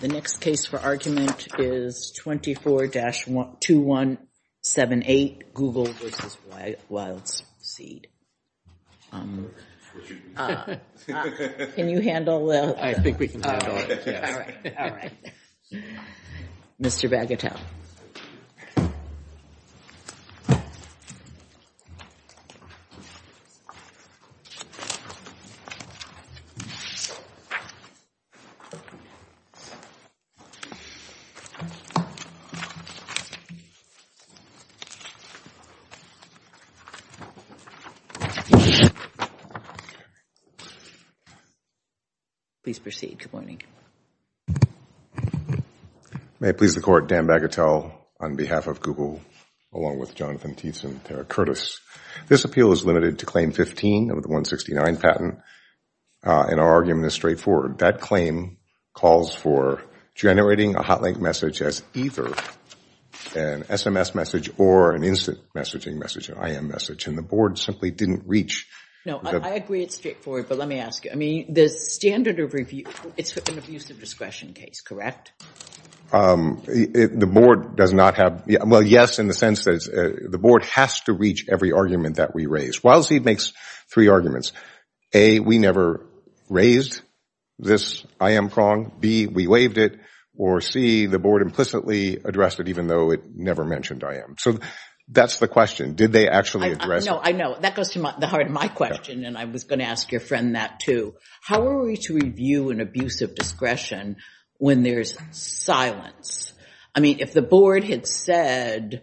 The next case for argument is 24-2178, Google v. Wildseed. Mr. Bagatelle. May it please the Court, Dan Bagatelle on behalf of Google along with Jonathan Tietzen and Tara Curtis. This appeal is limited to claim 15 of the 169 patent and our argument is straightforward. That claim calls for generating a hotlink message as either an SMS message or an instant messaging message, an IM message, and the Board simply didn't reach. No, I agree it's straightforward, but let me ask you. I mean, the standard of review, it's an abuse of discretion case, correct? The Board does not have, well, yes, in the sense that the Board has to reach every argument that we raise. Wildseed makes three arguments. A, we never raised this IM prong, B, we waived it, or C, the Board implicitly addressed it even though it never mentioned IM. So that's the question. Did they actually address it? No, I know. That goes to the heart of my question and I was going to ask your friend that too. How are we to review an abuse of discretion when there's silence? I mean, if the Board had said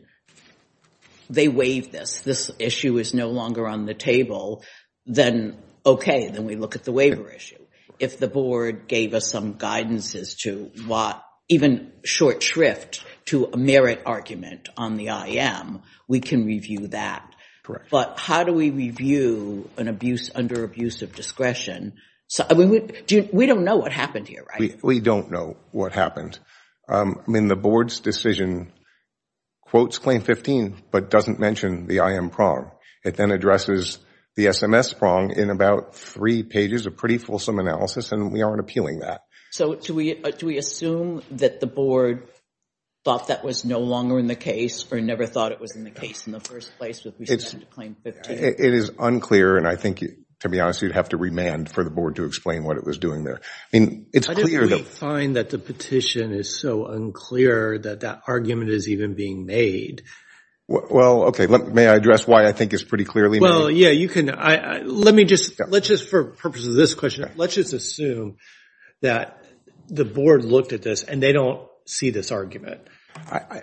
they waived this, this issue is no longer on the table, then okay, then we look at the waiver issue. If the Board gave us some guidances to even short shrift to a merit argument on the IM, we can review that. But how do we review an abuse under abuse of discretion? We don't know what happened here, right? We don't know what happened. The Board's decision quotes Claim 15 but doesn't mention the IM prong. It then addresses the SMS prong in about three pages of pretty fulsome analysis and we aren't appealing that. So do we assume that the Board thought that was no longer in the case or never thought it was in the case in the first place with respect to Claim 15? It is unclear and I think, to be honest, you'd have to remand for the Board to explain what it was doing there. I mean, it's clear though. I don't really find that the petition is so unclear that that argument is even being made. Well, okay, may I address why I think it's pretty clearly made? Well, yeah, you can. Let me just, let's just, for purposes of this question, let's just assume that the Board looked at this and they don't see this argument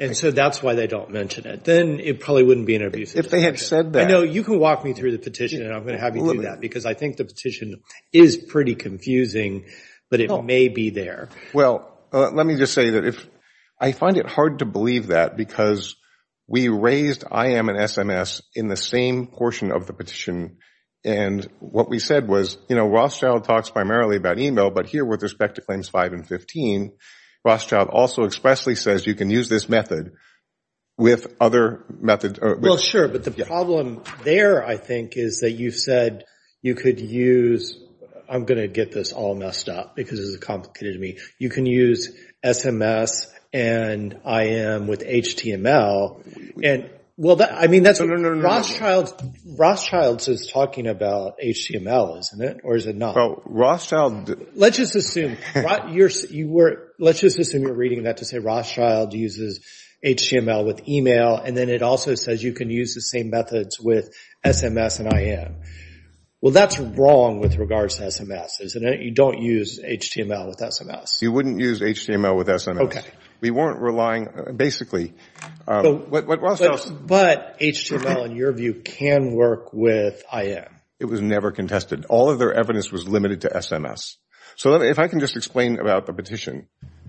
and so that's why they don't mention it. Then it probably wouldn't be an abuse of discretion. If they had said that. I know, you can walk me through the petition and I'm going to have you do that because I think the petition is pretty confusing, but it may be there. Well, let me just say that if, I find it hard to believe that because we raised IM and SMS in the same portion of the petition and what we said was, you know, Rothschild talks primarily about email, but here with respect to Claims 5 and 15, Rothschild also expressly says you can use this method with other methods. Well, sure, but the problem there, I think, is that you've said you could use, I'm going to get this all messed up because it's complicated to me. You can use SMS and IM with HTML and, well, I mean, that's what Rothschild, Rothschild is talking about HTML, isn't it? Or is it not? Well, Rothschild. Let's just assume you're reading that to say Rothschild uses HTML with email and then it also says you can use the same methods with SMS and IM. Well, that's wrong with regards to SMS, isn't it? You don't use HTML with SMS. You wouldn't use HTML with SMS. We weren't relying, basically, what Rothschild. But HTML, in your view, can work with IM. It was never contested. All of their evidence was limited to SMS. So if I can just explain about the petition.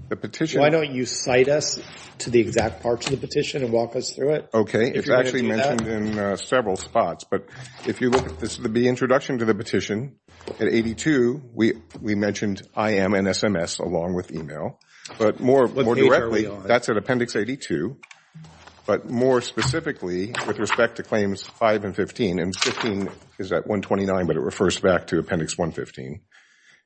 The petition. Why don't you cite us to the exact parts of the petition and walk us through it? Okay. It's actually mentioned in several spots. But if you look at the introduction to the petition, at 82, we mentioned IM and SMS along with email. But more directly, that's at Appendix 82. But more specifically, with respect to Claims 5 and 15, and 15 is at 129, but it refers back to Appendix 115.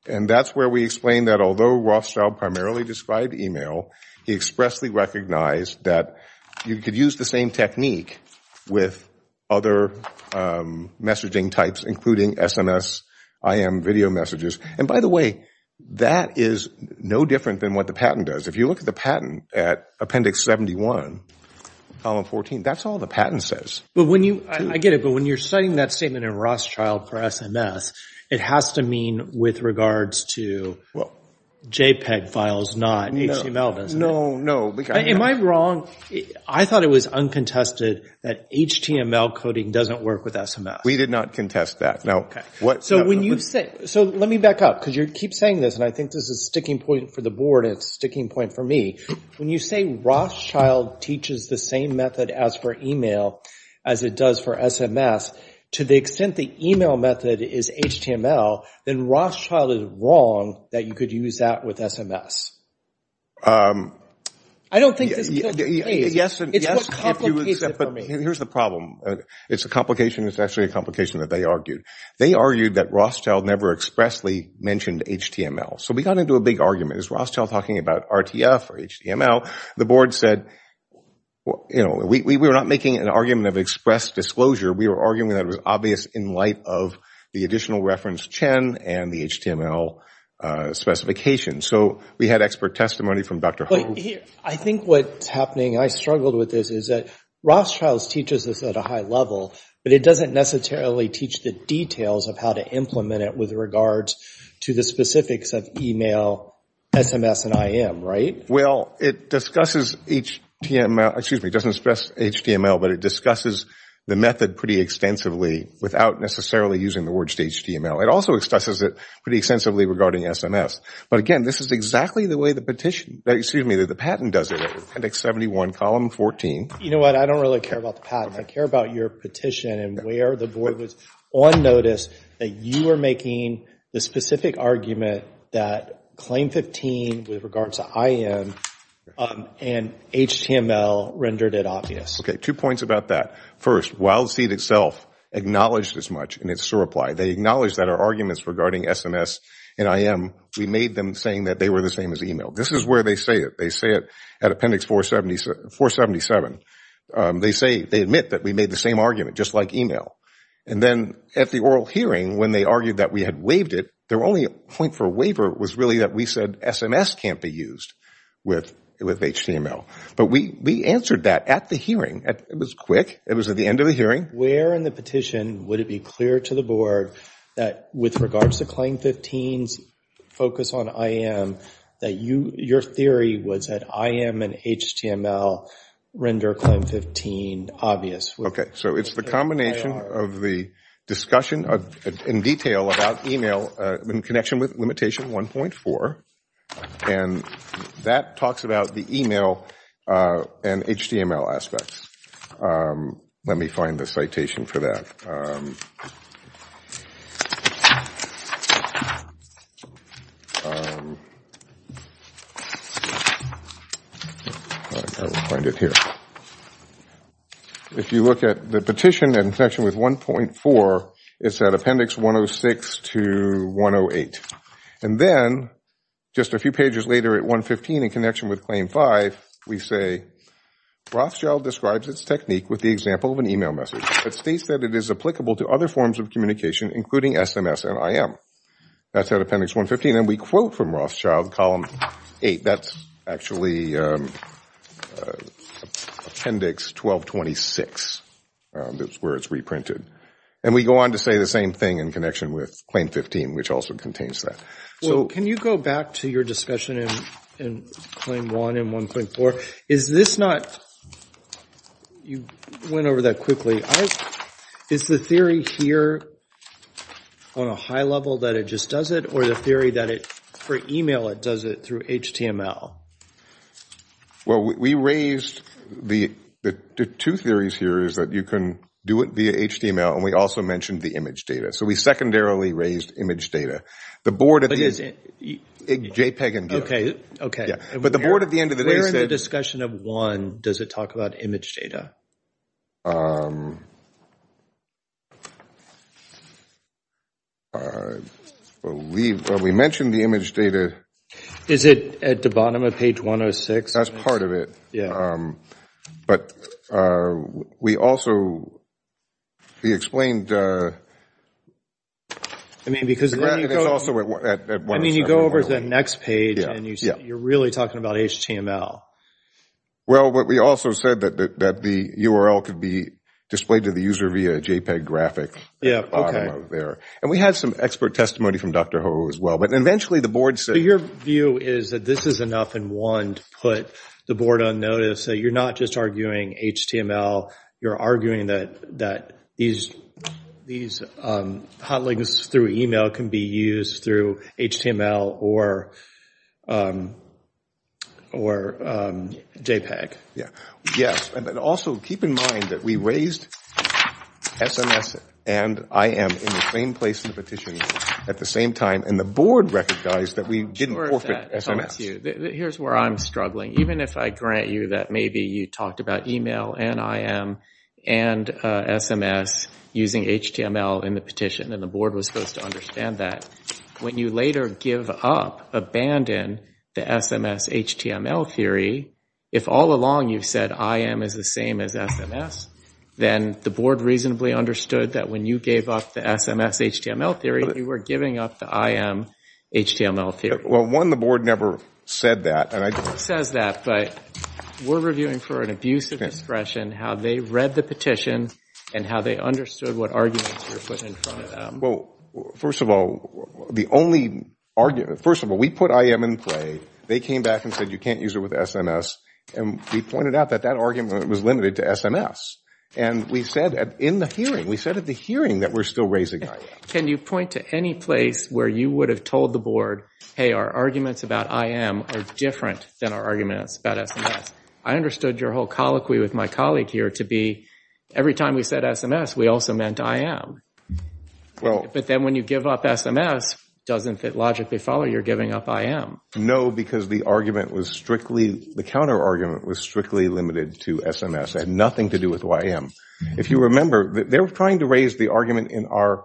And that's where we explain that although Rothschild primarily described email, he expressly recognized that you could use the same technique with other messaging types, including SMS, IM, video messages. And by the way, that is no different than what the patent does. If you look at the patent at Appendix 71, Column 14, that's all the patent says. But when you, I get it, but when you're citing that statement in Rothschild for SMS, it has to mean with regards to JPEG files, not HTML, doesn't it? No. Am I wrong? I thought it was uncontested that HTML coding doesn't work with SMS. We did not contest that. No. So when you say, so let me back up, because you keep saying this, and I think this is a sticking point for the board, and it's a sticking point for me. When you say Rothschild teaches the same method as for email as it does for SMS, to the extent the email method is HTML, then Rothschild is wrong that you could use that with SMS. I don't think this is a guilty plea. It's what complicates it for me. Here's the problem. It's a complication. It's actually a complication that they argued. They argued that Rothschild never expressly mentioned HTML. So we got into a big argument. It was Rothschild talking about RTF or HTML. The board said, you know, we were not making an argument of express disclosure. We were arguing that it was obvious in light of the additional reference CHEN and the HTML specification. So we had expert testimony from Dr. Holtz. I think what's happening, and I struggled with this, is that Rothschild teaches this at a high level, but it doesn't necessarily teach the details of how to implement it with regards to the specifics of email, SMS, and IM, right? Well, it discusses HTML, excuse me, it doesn't express HTML, but it discusses the method pretty extensively without necessarily using the words HTML. It also discusses it pretty extensively regarding SMS. But again, this is exactly the way the patent does it, appendix 71, column 14. You know what? I don't really care about the patent. I care about your petition and where the board was on notice that you were making the specific argument that claim 15 with regards to IM and HTML rendered it obvious. Okay. Two points about that. First, Wild Seed itself acknowledged as much, and it's so replied. They acknowledged that our arguments regarding SMS and IM, we made them saying that they were the same as email. This is where they say it. They say it at appendix 477. They say, they admit that we made the same argument, just like email. And then at the oral hearing, when they argued that we had waived it, their only point for waiver was really that we said SMS can't be used with HTML. But we answered that at the hearing. It was quick. It was at the end of the hearing. Where in the petition would it be clear to the board that with regards to claim 15's focus on IM, that your theory was that IM and HTML render claim 15 obvious? Okay. So it's the combination of the discussion in detail about email in connection with limitation 1.4, and that talks about the email and HTML aspects. Let me find the citation for that. If you look at the petition in connection with 1.4, it's at appendix 106 to 108. And then just a few pages later at 115 in connection with claim 5, we say Rothschild describes its technique with the example of an email message that states that it is applicable to other forms of communication, including SMS and IM. That's at appendix 115. And we quote from Rothschild, column 8. That's actually appendix 1226. That's where it's reprinted. And we go on to say the same thing in connection with claim 15, which also contains that. Well, can you go back to your discussion in claim 1 and 1.4? Is this not – you went over that quickly. Is the theory here on a high level that it just does it, or the theory that for email it does it through HTML? Well, we raised – the two theories here is that you can do it via HTML and we also mentioned the image data. So we secondarily raised image data. The board at the end – JPEG and GIF. Okay, okay. But the board at the end of the day said – Where in the discussion of 1 does it talk about image data? We mentioned the image data. Is it at the bottom of page 106? That's part of it. But we also – we explained – I mean, because then you go over to the next page and you – you're really talking about HTML. Well, we also said that the URL could be displayed to the user via a JPEG graphic at the bottom of there. And we had some expert testimony from Dr. Ho as well. But eventually the board said – So your view is that this is enough in one to put the board on notice, that you're not just arguing HTML, you're arguing that these hot links through email can be used through HTML or JPEG? Yes. And also keep in mind that we raised SMS and IM in the same place in the petition at the same time and the board recognized that we didn't forfeit SMS. Here's where I'm struggling. Even if I grant you that maybe you talked about email and IM and SMS using HTML in the petition and the board was supposed to understand that, when you later give up, abandon the SMS HTML theory, if all along you've said IM is the same as SMS, then the board reasonably understood that when you gave up the SMS HTML theory, you were giving up the IM HTML theory. Well, one, the board never said that. The board says that, but we're reviewing for an abuse of discretion how they read the petition and how they understood what arguments you're putting in front of them. First of all, the only – first of all, we put IM in play, they came back and said you can't use it with SMS, and we pointed out that that argument was limited to SMS. And we said that in the hearing. We said at the hearing that we're still raising IM. Can you point to any place where you would have told the board, hey, our arguments about IM are different than our arguments about SMS? I understood your whole colloquy with my colleague here to be, every time we said SMS, we also meant IM. But then when you give up SMS, doesn't it logically follow you're giving up IM? No, because the argument was strictly – the counter-argument was strictly limited to SMS. It had nothing to do with IM. If you remember, they were trying to raise the argument in our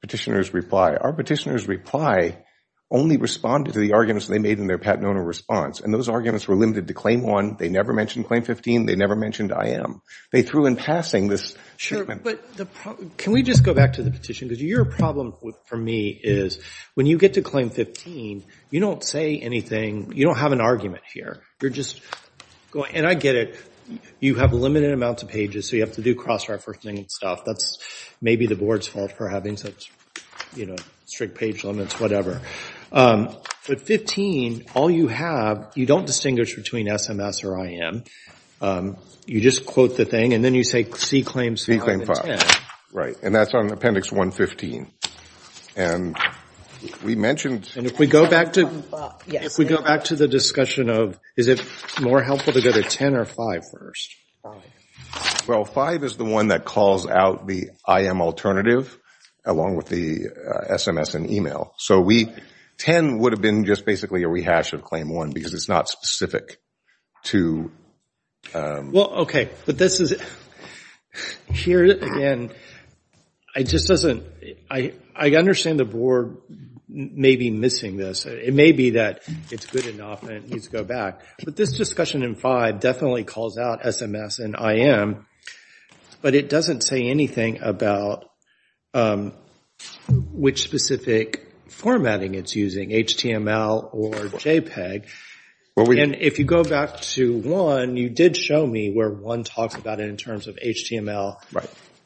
petitioner's reply. Our petitioner's reply only responded to the arguments they made in their paternal response, and those arguments were limited to claim one. They never mentioned claim 15. They never mentioned IM. They threw in passing this – Sure, but the – can we just go back to the petition, because your problem for me is, when you get to claim 15, you don't say anything – you don't have an argument here. You're just going – and I get it. You have limited amounts of pages, so you have to do cross-referencing and stuff. That's maybe the board's fault for having such strict page limits, whatever. But 15, all you have – you don't distinguish between SMS or IM. You just quote the thing, and then you say, see claims five and ten. See claim five, right. And that's on Appendix 115. And we mentioned – And if we go back to – if we go back to the discussion of, is it more helpful to go to ten or five first? Five. Well, five is the one that calls out the IM alternative, along with the SMS and email. So we – ten would have been just basically a rehash of claim one, because it's not specific to – Well, okay. But this is – here, again, it just doesn't – I understand the board may be missing this. It may be that it's good enough and it needs to go back. But this discussion in five definitely calls out SMS and IM, but it doesn't say anything about which specific formatting it's using, HTML or JPEG. And if you go back to one, you did show me where one talks about it in terms of HTML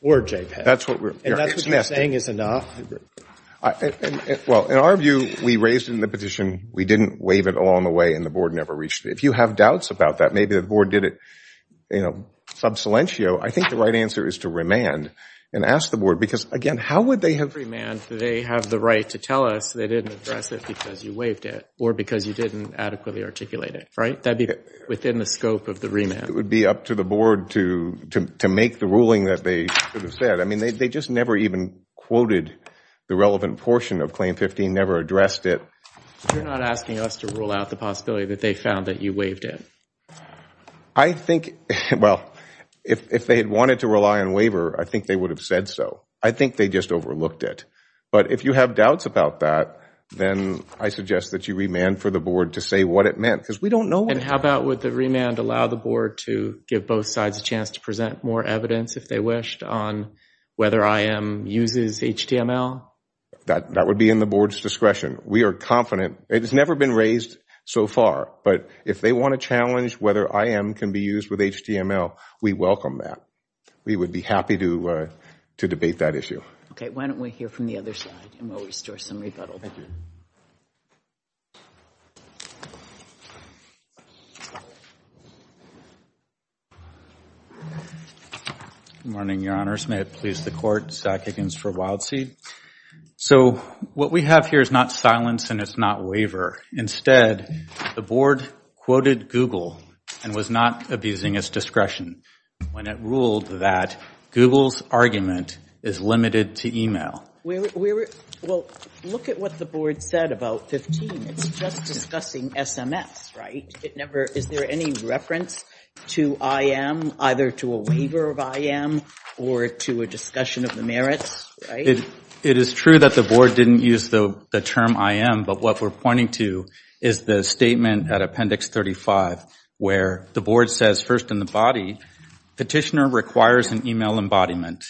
or JPEG. And that's what you're saying is enough? Well, in our view, we raised it in the petition. We didn't waive it along the way, and the board never reached it. If you have doubts about that, maybe the board did it sub silentio, I think the right answer is to remand and ask the board. Because again, how would they have – Remand. They have the right to tell us they didn't address it because you waived it or because you didn't adequately articulate it, right? That would be within the scope of the remand. It would be up to the board to make the ruling that they should have said. I mean, they just never even quoted the relevant portion of claim 15, never addressed it. You're not asking us to rule out the possibility that they found that you waived it? I think – well, if they had wanted to rely on waiver, I think they would have said so. I think they just overlooked it. But if you have doubts about that, then I suggest that you remand for the board to say what it meant. Because we don't know what – And how about would the remand allow the board to give both sides a chance to present more evidence if they wished on whether IM uses HTML? That would be in the board's discretion. We are confident. It has never been raised so far. But if they want to challenge whether IM can be used with HTML, we welcome that. We would be happy to debate that issue. Okay. Why don't we hear from the other side and we'll restore some rebuttal. Thank you. Good morning, Your Honors. May it please the Court. Zach Higgins for Wild Seed. So what we have here is not silence and it's not waiver. Instead, the board quoted Google and was not abusing its discretion when it ruled that Google's argument is limited to email. Well, look at what the board said about 15. It's just discussing SMS, right? Is there any reference to IM, either to a waiver of IM or to a discussion of the merits? It is true that the board didn't use the term IM, but what we're pointing to is the statement at Appendix 35 where the board says, first in the body, petitioner requires an email embodiment.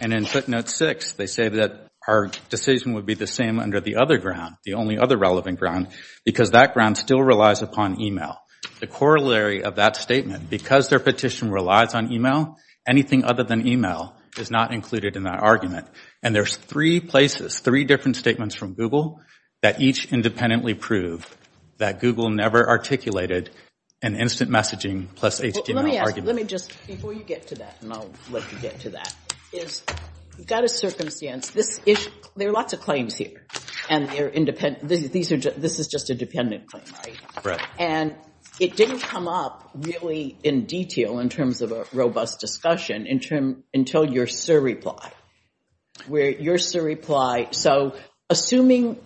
And in footnote 6, they say that our decision would be the same under the other ground, the only other relevant ground, because that ground still relies upon email. The corollary of that statement, because their petition relies on email, anything other than email is not included in that argument. And there's three places, three different statements from Google that each independently prove that Google never articulated an instant messaging plus HTML argument. Let me just, before you get to that, and I'll let you get to that, is we've got a circumstance, this issue, there are lots of claims here and they're independent, this is just a dependent claim, right? Correct. And it didn't come up really in detail in terms of a robust discussion until your surreply. So assuming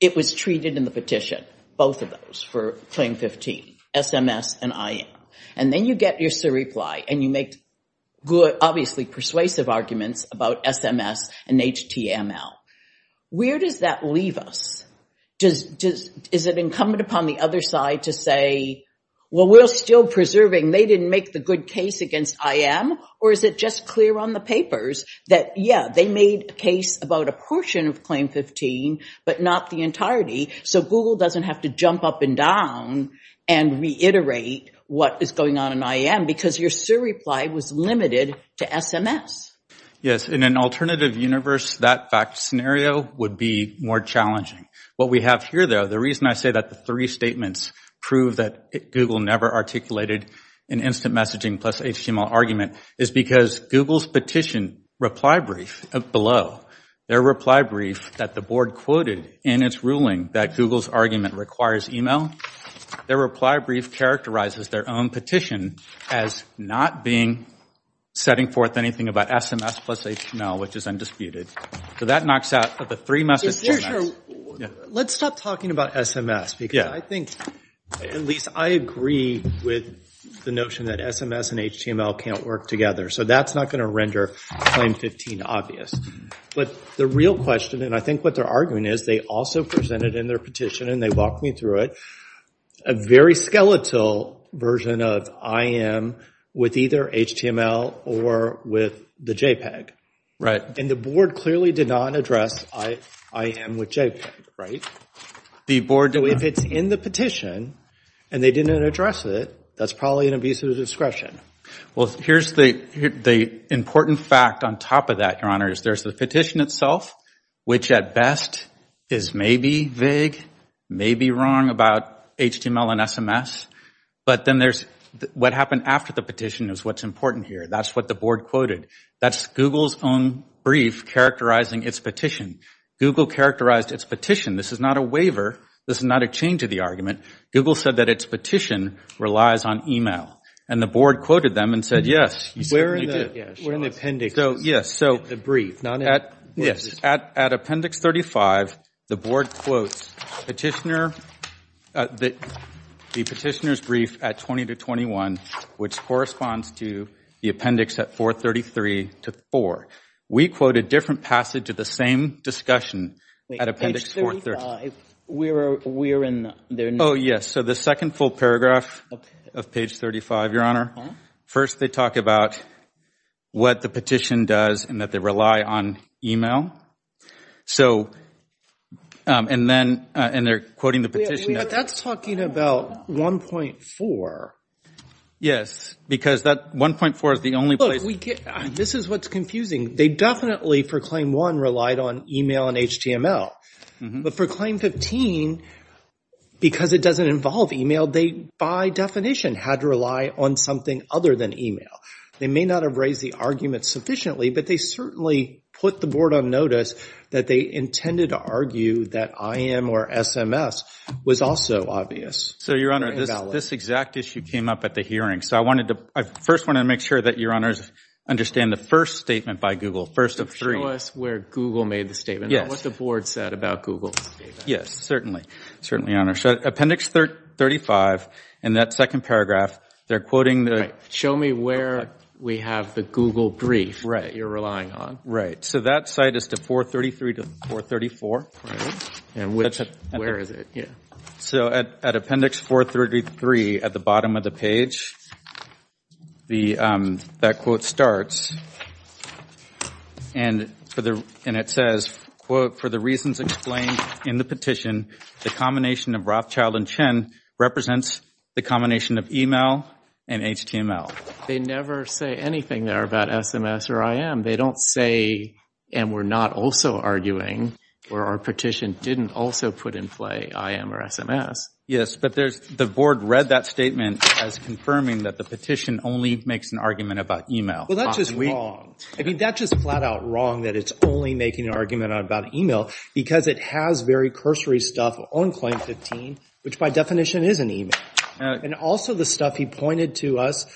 it was treated in the petition, both of those for Claim 15, SMS and IM, and then you get your surreply and you make good, obviously persuasive arguments about SMS and HTML, where does that leave us? Is it incumbent upon the other side to say, well, we're still preserving, they didn't make the good case against IM, or is it just clear on the papers that, yeah, they made a case about a portion of Claim 15, but not the entirety, so Google doesn't have to jump up and down and reiterate what is going on in IM, because your surreply was limited to Yes, in an alternative universe, that fact scenario would be more challenging. What we have here, though, the reason I say that the three statements prove that Google never articulated an instant messaging plus HTML argument is because Google's petition reply brief below, their reply brief that the board quoted in its ruling that Google's argument requires email, their reply brief characterizes their own petition as not being setting forth anything about SMS plus HTML, which is undisputed. That knocks out the three messages. Let's stop talking about SMS, because I think, at least I agree with the notion that SMS and HTML can't work together, so that's not going to render Claim 15 obvious, but the real question, and I think what they're arguing is, they also presented in their petition and they walked me through it, a very skeletal version of IM with either HTML or with the JPEG. Right. And the board clearly did not address IM with JPEG, right? The board did not. So if it's in the petition, and they didn't address it, that's probably an abuse of discretion. Well here's the important fact on top of that, Your Honor, is there's the petition itself, which at best is maybe vague, maybe wrong about HTML and SMS, but then there's what happened after the petition is what's important here. That's what the board quoted. That's Google's own brief characterizing its petition. Google characterized its petition. This is not a waiver. This is not a change of the argument. Google said that its petition relies on email. And the board quoted them and said, yes, you certainly do. We're in the appendix. Yes, so. The brief. Yes, at appendix 35, the board quotes the petitioner's brief at 20 to 21, which corresponds to the appendix at 433 to 4. We quote a different passage of the same discussion at appendix 435. Wait, page 35, we're in there now. Oh yes, so the second full paragraph of page 35, Your Honor, first they talk about what the petition does and that they rely on email. So and then, and they're quoting the petition. That's talking about 1.4. Yes, because that 1.4 is the only place. This is what's confusing. They definitely for claim one relied on email and HTML. But for claim 15, because it doesn't involve email, they by definition had to rely on something other than email. They may not have raised the argument sufficiently, but they certainly put the board on notice that they intended to argue that IM or SMS was also obvious. So Your Honor, this exact issue came up at the hearing. So I wanted to, I first wanted to make sure that Your Honors understand the first statement by Google. First of three. Show us where Google made the statement. Yes. What the board said about Google. Yes, certainly. Certainly, Your Honor. So appendix 35, in that second paragraph, they're quoting the. Show me where we have the Google brief that you're relying on. Right. So that site is to 433 to 434. And which, where is it? So at appendix 433 at the bottom of the page, that quote starts and it says, quote, for the reasons explained in the petition, the combination of Rothschild and Chen represents the combination of email and HTML. They never say anything there about SMS or IM. They don't say, and we're not also arguing, where our petition didn't also put in play IM or SMS. Yes, but there's, the board read that statement as confirming that the petition only makes an argument about email. Well, that's just wrong. I mean, that's just flat out wrong that it's only making an argument about email because it has very cursory stuff on claim 15, which by definition is an email. And also the stuff he pointed to us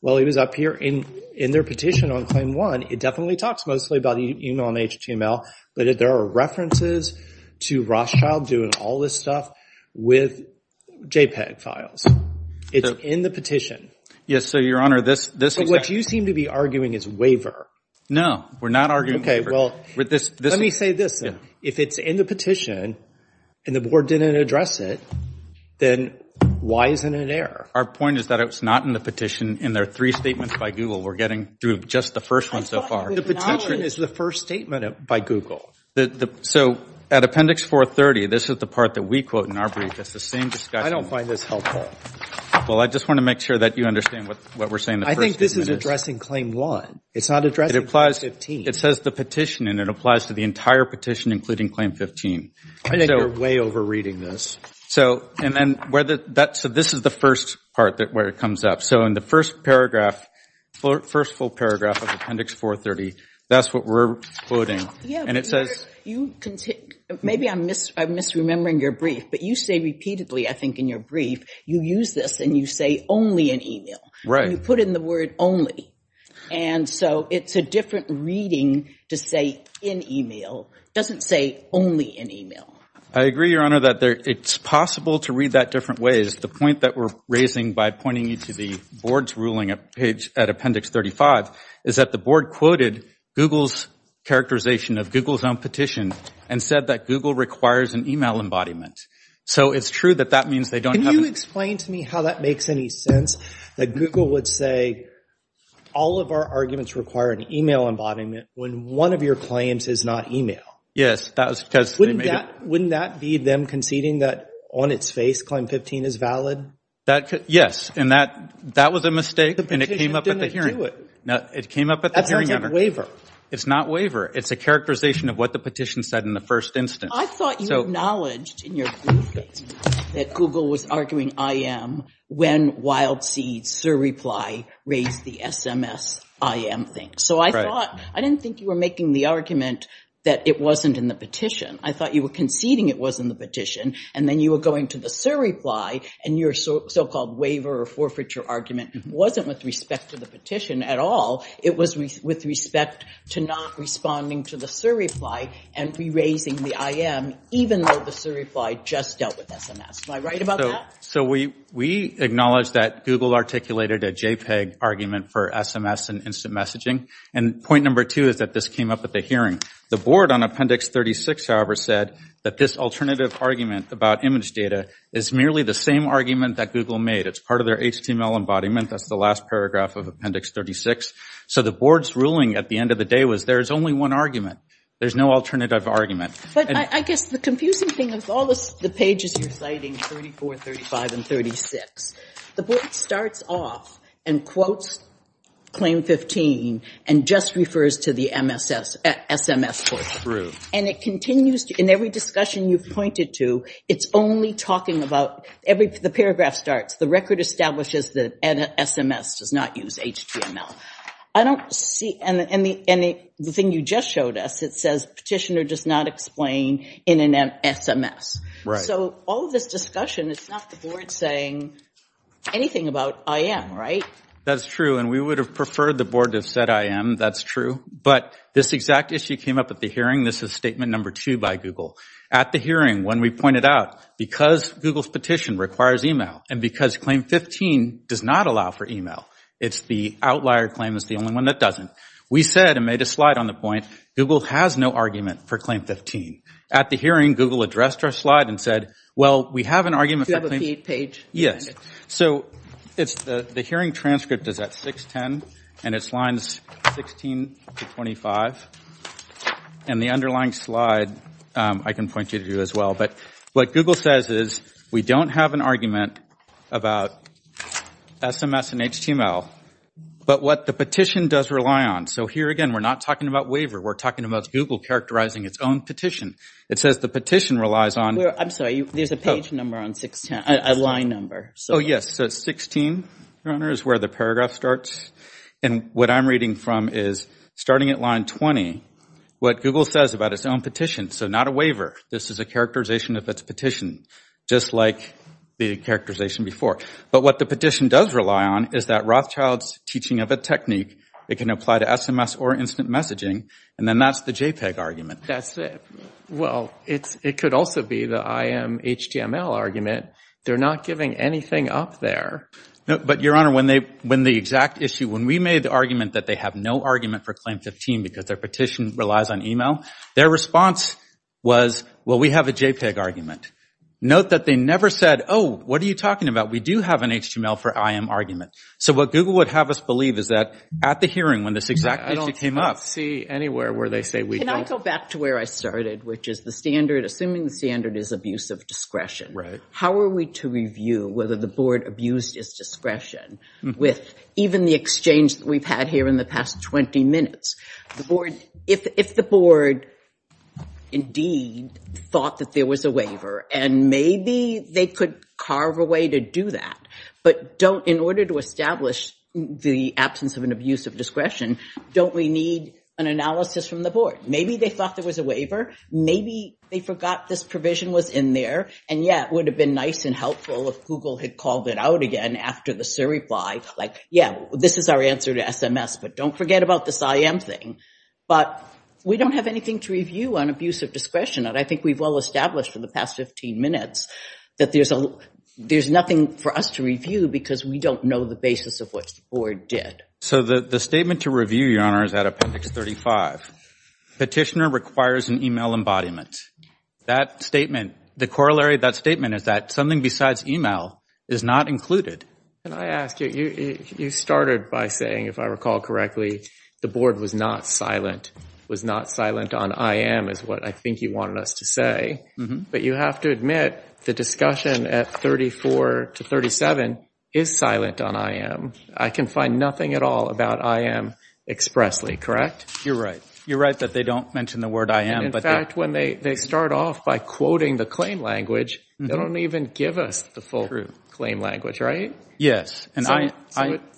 while he was up here in their petition on claim one, it definitely talks mostly about email and HTML, but there are references to Rothschild doing all this stuff with JPEG files. It's in the petition. Yes. So, Your Honor, this. So, what you seem to be arguing is waiver. No, we're not arguing. Okay. Well, let me say this. If it's in the petition and the board didn't address it, then why isn't it there? Our point is that it was not in the petition in their three statements by Google. We're getting through just the first one so far. The petition is the first statement by Google. So at appendix 430, this is the part that we quote in our brief. It's the same discussion. I don't find this helpful. Well, I just want to make sure that you understand what we're saying. I think this is addressing claim one. It's not addressing claim 15. It applies. It says the petition and it applies to the entire petition, including claim 15. I think you're way over reading this. So, and then where that, so this is the first part that where it comes up. So in the first paragraph, first full paragraph of appendix 430, that's what we're quoting. And it says. You continue. Maybe I'm misremembering your brief, but you say repeatedly, I think in your brief, you use this and you say only in email. Right. You put in the word only. And so it's a different reading to say in email doesn't say only in email. I agree, Your Honor, that it's possible to read that different ways. The point that we're raising by pointing you to the board's ruling page at appendix 35 is that the board quoted Google's characterization of Google's own petition and said that Google requires an email embodiment. So it's true that that means they don't. Can you explain to me how that makes any sense that Google would say all of our arguments require an email embodiment when one of your claims is not email? Yes. That was because. Wouldn't that be them conceding that on its face, claim 15 is valid? That could. Yes. And that, that was a mistake. And it came up at the hearing. It came up at the hearing. That's not a waiver. It's not waiver. It's a characterization of what the petition said in the first instance. I thought you acknowledged in your briefcase that Google was arguing IM when Wild Seed's surreply raised the SMS IM thing. So I thought, I didn't think you were making the argument that it wasn't in the petition. I thought you were conceding it was in the petition and then you were going to the surreply and your so-called waiver or forfeiture argument wasn't with respect to the petition at all. It was with respect to not responding to the surreply and re-raising the IM even though the surreply just dealt with SMS. Am I right about that? So we, we acknowledge that Google articulated a JPEG argument for SMS and instant messaging. And point number two is that this came up at the hearing. The board on Appendix 36, however, said that this alternative argument about image data is merely the same argument that Google made. It's part of their HTML embodiment. That's the last paragraph of Appendix 36. So the board's ruling at the end of the day was there's only one argument. There's no alternative argument. But I guess the confusing thing is all the pages you're citing, 34, 35, and 36, the board starts off and quotes Claim 15 and just refers to the SMS portion. And it continues to, in every discussion you've pointed to, it's only talking about, the paragraph starts, the record establishes that SMS does not use HTML. I don't see, and the thing you just showed us, it says petitioner does not explain in an SMS. Right. So all this discussion, it's not the board saying anything about IM, right? That's true. And we would have preferred the board to have said IM. That's true. But this exact issue came up at the hearing. This is statement number two by Google. At the hearing, when we pointed out, because Google's petition requires email, and because Claim 15 does not allow for email, it's the outlier claim is the only one that doesn't. We said, and made a slide on the point, Google has no argument for Claim 15. At the hearing, Google addressed our slide and said, well, we have an argument for Claim Do you have a page? Yes. So the hearing transcript is at 610, and it's lines 16 to 25. And the underlying slide, I can point you to as well. But what Google says is, we don't have an argument about SMS and HTML. But what the petition does rely on. So here again, we're not talking about waiver. We're talking about Google characterizing its own petition. It says the petition relies on. I'm sorry. There's a page number on 610. A line number. Oh, yes. So 16, Your Honor, is where the paragraph starts. And what I'm reading from is, starting at line 20, what Google says about its own petition. So not a waiver. This is a characterization of its petition. Just like the characterization before. But what the petition does rely on is that Rothschild's teaching of a technique, it can apply to SMS or instant messaging, and then that's the JPEG argument. That's it. Well, it could also be the IM HTML argument. They're not giving anything up there. But Your Honor, when the exact issue, when we made the argument that they have no argument for Claim 15 because their petition relies on email, their response was, well, we have a JPEG argument. Note that they never said, oh, what are you talking about? We do have an HTML for IM argument. So what Google would have us believe is that at the hearing when this exact issue came up. I don't see anywhere where they say we don't. Can I go back to where I started, which is the standard, assuming the standard is abuse of discretion. How are we to review whether the board abused its discretion with even the exchange that we've had here in the past 20 minutes? If the board indeed thought that there was a waiver, and maybe they could carve a way to do that, but in order to establish the absence of an abuse of discretion, don't we need an analysis from the board? Maybe they thought there was a waiver. Maybe they forgot this provision was in there. And yeah, it would have been nice and helpful if Google had called it out again after the SIR reply, like, yeah, this is our answer to SMS, but don't forget about this IM thing. But we don't have anything to review on abuse of discretion, and I think we've well established for the past 15 minutes that there's nothing for us to review because we don't know the basis of what the board did. So the statement to review, Your Honor, is out of Appendix 35. Petitioner requires an email embodiment. That statement, the corollary of that statement is that something besides email is not included. Can I ask you, you started by saying, if I recall correctly, the board was not silent, was not silent on IM is what I think you wanted us to say. But you have to admit the discussion at 34 to 37 is silent on IM. I can find nothing at all about IM expressly, correct? You're right. You're right that they don't mention the word IM. In fact, when they start off by quoting the claim language, they don't even give us the full claim language, right? Yes.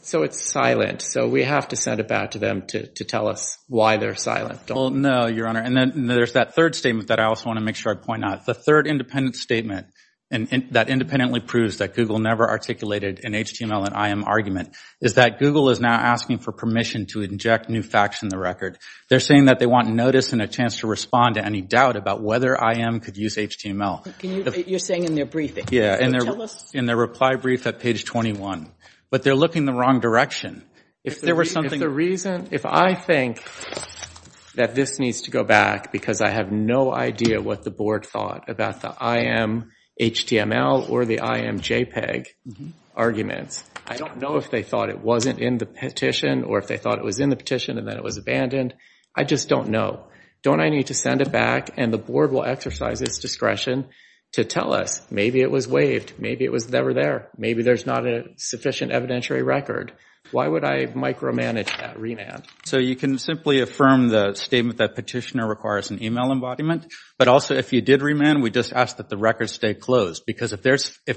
So it's silent. So we have to send it back to them to tell us why they're silent. Well, no, Your Honor. And then there's that third statement that I also want to make sure I point out. The third independent statement that independently proves that Google never articulated an HTML and IM argument is that Google is now asking for permission to inject new facts in the record. They're saying that they want notice and a chance to respond to any doubt about whether IM could use HTML. You're saying in their briefing. Yeah. So tell us. In their reply brief at page 21. But they're looking the wrong direction. If there were something... If the reason, if I think that this needs to go back because I have no idea what the board thought about the IM HTML or the IM JPEG arguments, I don't know if they thought it wasn't in the petition or if they thought it was in the petition and then it was abandoned. I just don't know. Don't I need to send it back and the board will exercise its discretion to tell us maybe it was waived. Maybe it was never there. Maybe there's not a sufficient evidentiary record. Why would I micromanage that remand? So you can simply affirm the statement that petitioner requires an email embodiment. But also if you did remand, we just ask that the record stay closed. Because if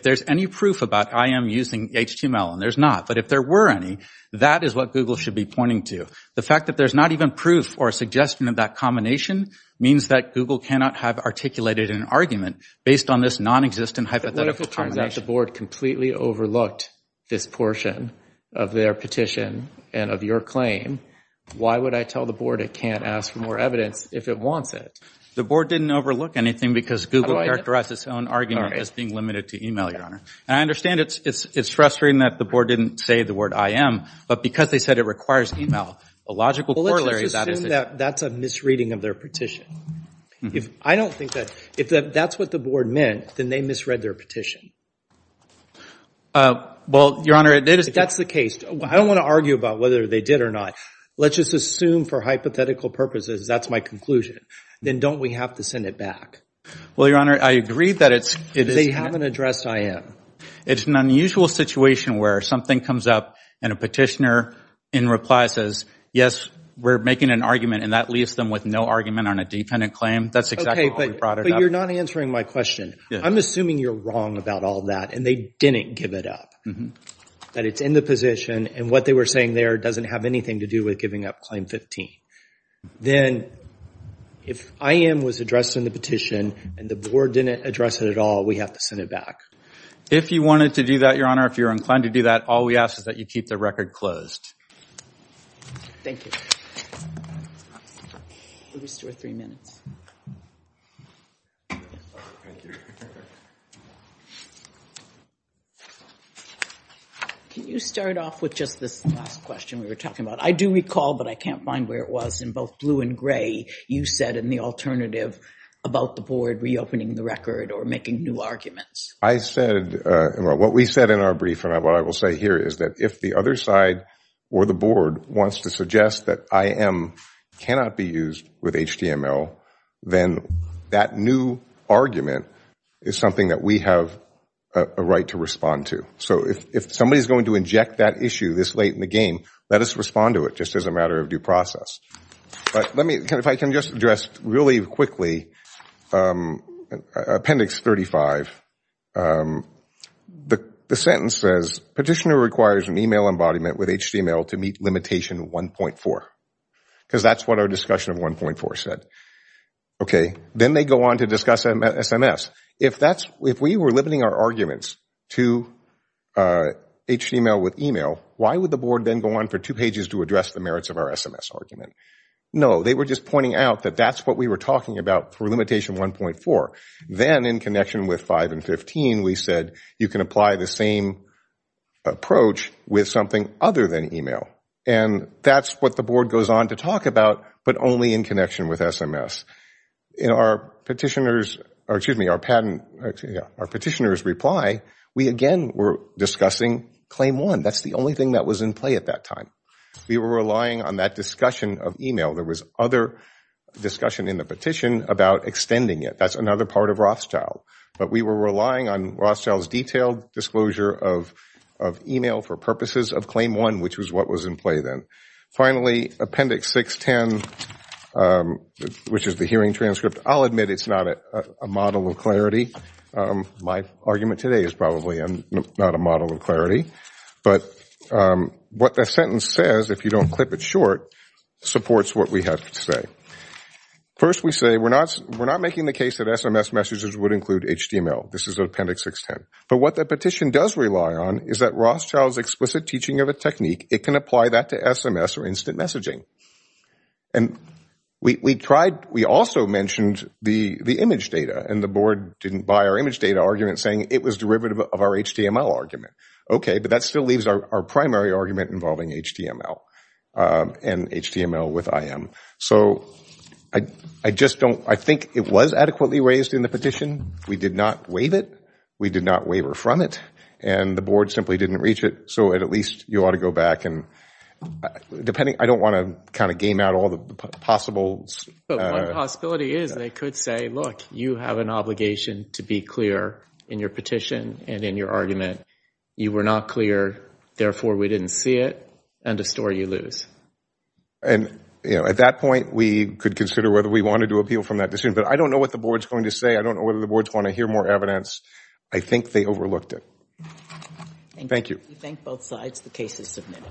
there's any proof about IM using HTML and there's not. But if there were any, that is what Google should be pointing to. The fact that there's not even proof or a suggestion of that combination means that Google cannot have articulated an argument based on this non-existent hypothetical combination. If it turns out the board completely overlooked this portion of their petition and of your claim, why would I tell the board it can't ask for more evidence if it wants it? The board didn't overlook anything because Google characterized its own argument as being limited to email, Your Honor. And I understand it's frustrating that the board didn't say the word IM. But because they said it requires email, the logical corollary of that is that- Well, let's assume that that's a misreading of their petition. I don't think that if that's what the board meant, then they misread their petition. Well, Your Honor, it is- If that's the case, I don't want to argue about whether they did or not. Let's just assume for hypothetical purposes that's my conclusion. Then don't we have to send it back? Well, Your Honor, I agree that it's- They haven't addressed IM. It's an unusual situation where something comes up and a petitioner in reply says, yes, we're making an argument. And that leaves them with no argument on a defendant claim. That's exactly how we brought it up. But you're not answering my question. I'm assuming you're wrong about all that and they didn't give it up, that it's in the position and what they were saying there doesn't have anything to do with giving up Claim 15. Then if IM was addressed in the petition and the board didn't address it at all, we have to send it back. If you wanted to do that, Your Honor, if you're inclined to do that, all we ask is that you keep the record closed. Thank you. We'll restore three minutes. Can you start off with just this last question we were talking about? I do recall, but I can't find where it was, in both blue and gray, you said in the alternative about the board reopening the record or making new arguments. I said, well, what we said in our brief and what I will say here is that if the other side or the board wants to suggest that IM cannot be used with HTML, then that new argument is something that we have a right to respond to. If somebody is going to inject that issue this late in the game, let us respond to it just as a matter of due process. If I can just address really quickly Appendix 35. The sentence says, Petitioner requires an email embodiment with HTML to meet limitation 1.4. Because that's what our discussion of 1.4 said. Then they go on to discuss SMS. If we were limiting our arguments to HTML with email, why would the board then go on for two pages to address the merits of our SMS argument? No, they were just pointing out that that's what we were talking about through limitation 1.4. Then, in connection with 5 and 15, we said you can apply the same approach with something other than email. That's what the board goes on to talk about, but only in connection with SMS. In our petitioner's reply, we again were discussing Claim 1. That's the only thing that was in play at that time. We were relying on that discussion of email. There was other discussion in the petition about extending it. That's another part of Rothschild, but we were relying on Rothschild's detailed disclosure of email for purposes of Claim 1, which was what was in play then. Finally, Appendix 610, which is the hearing transcript, I'll admit it's not a model of My argument today is probably not a model of clarity. What that sentence says, if you don't clip it short, supports what we have to say. First we say we're not making the case that SMS messages would include HTML. This is Appendix 610. What the petition does rely on is that Rothschild's explicit teaching of a technique, it can apply that to SMS or instant messaging. We also mentioned the image data, and the board didn't buy our image data argument saying it was derivative of our HTML argument. Okay, but that still leaves our primary argument involving HTML and HTML with IM. I think it was adequately raised in the petition. We did not waive it. We did not waiver from it. The board simply didn't reach it, so at least you ought to go back. I don't want to game out all the possibles. But one possibility is they could say, look, you have an obligation to be clear in your petition and in your argument. You were not clear, therefore we didn't see it, and to store you lose. At that point, we could consider whether we wanted to appeal from that decision, but I don't know what the board's going to say. I don't know whether the board's going to hear more evidence. I think they overlooked it. Thank you. We thank both sides. The case is submitted.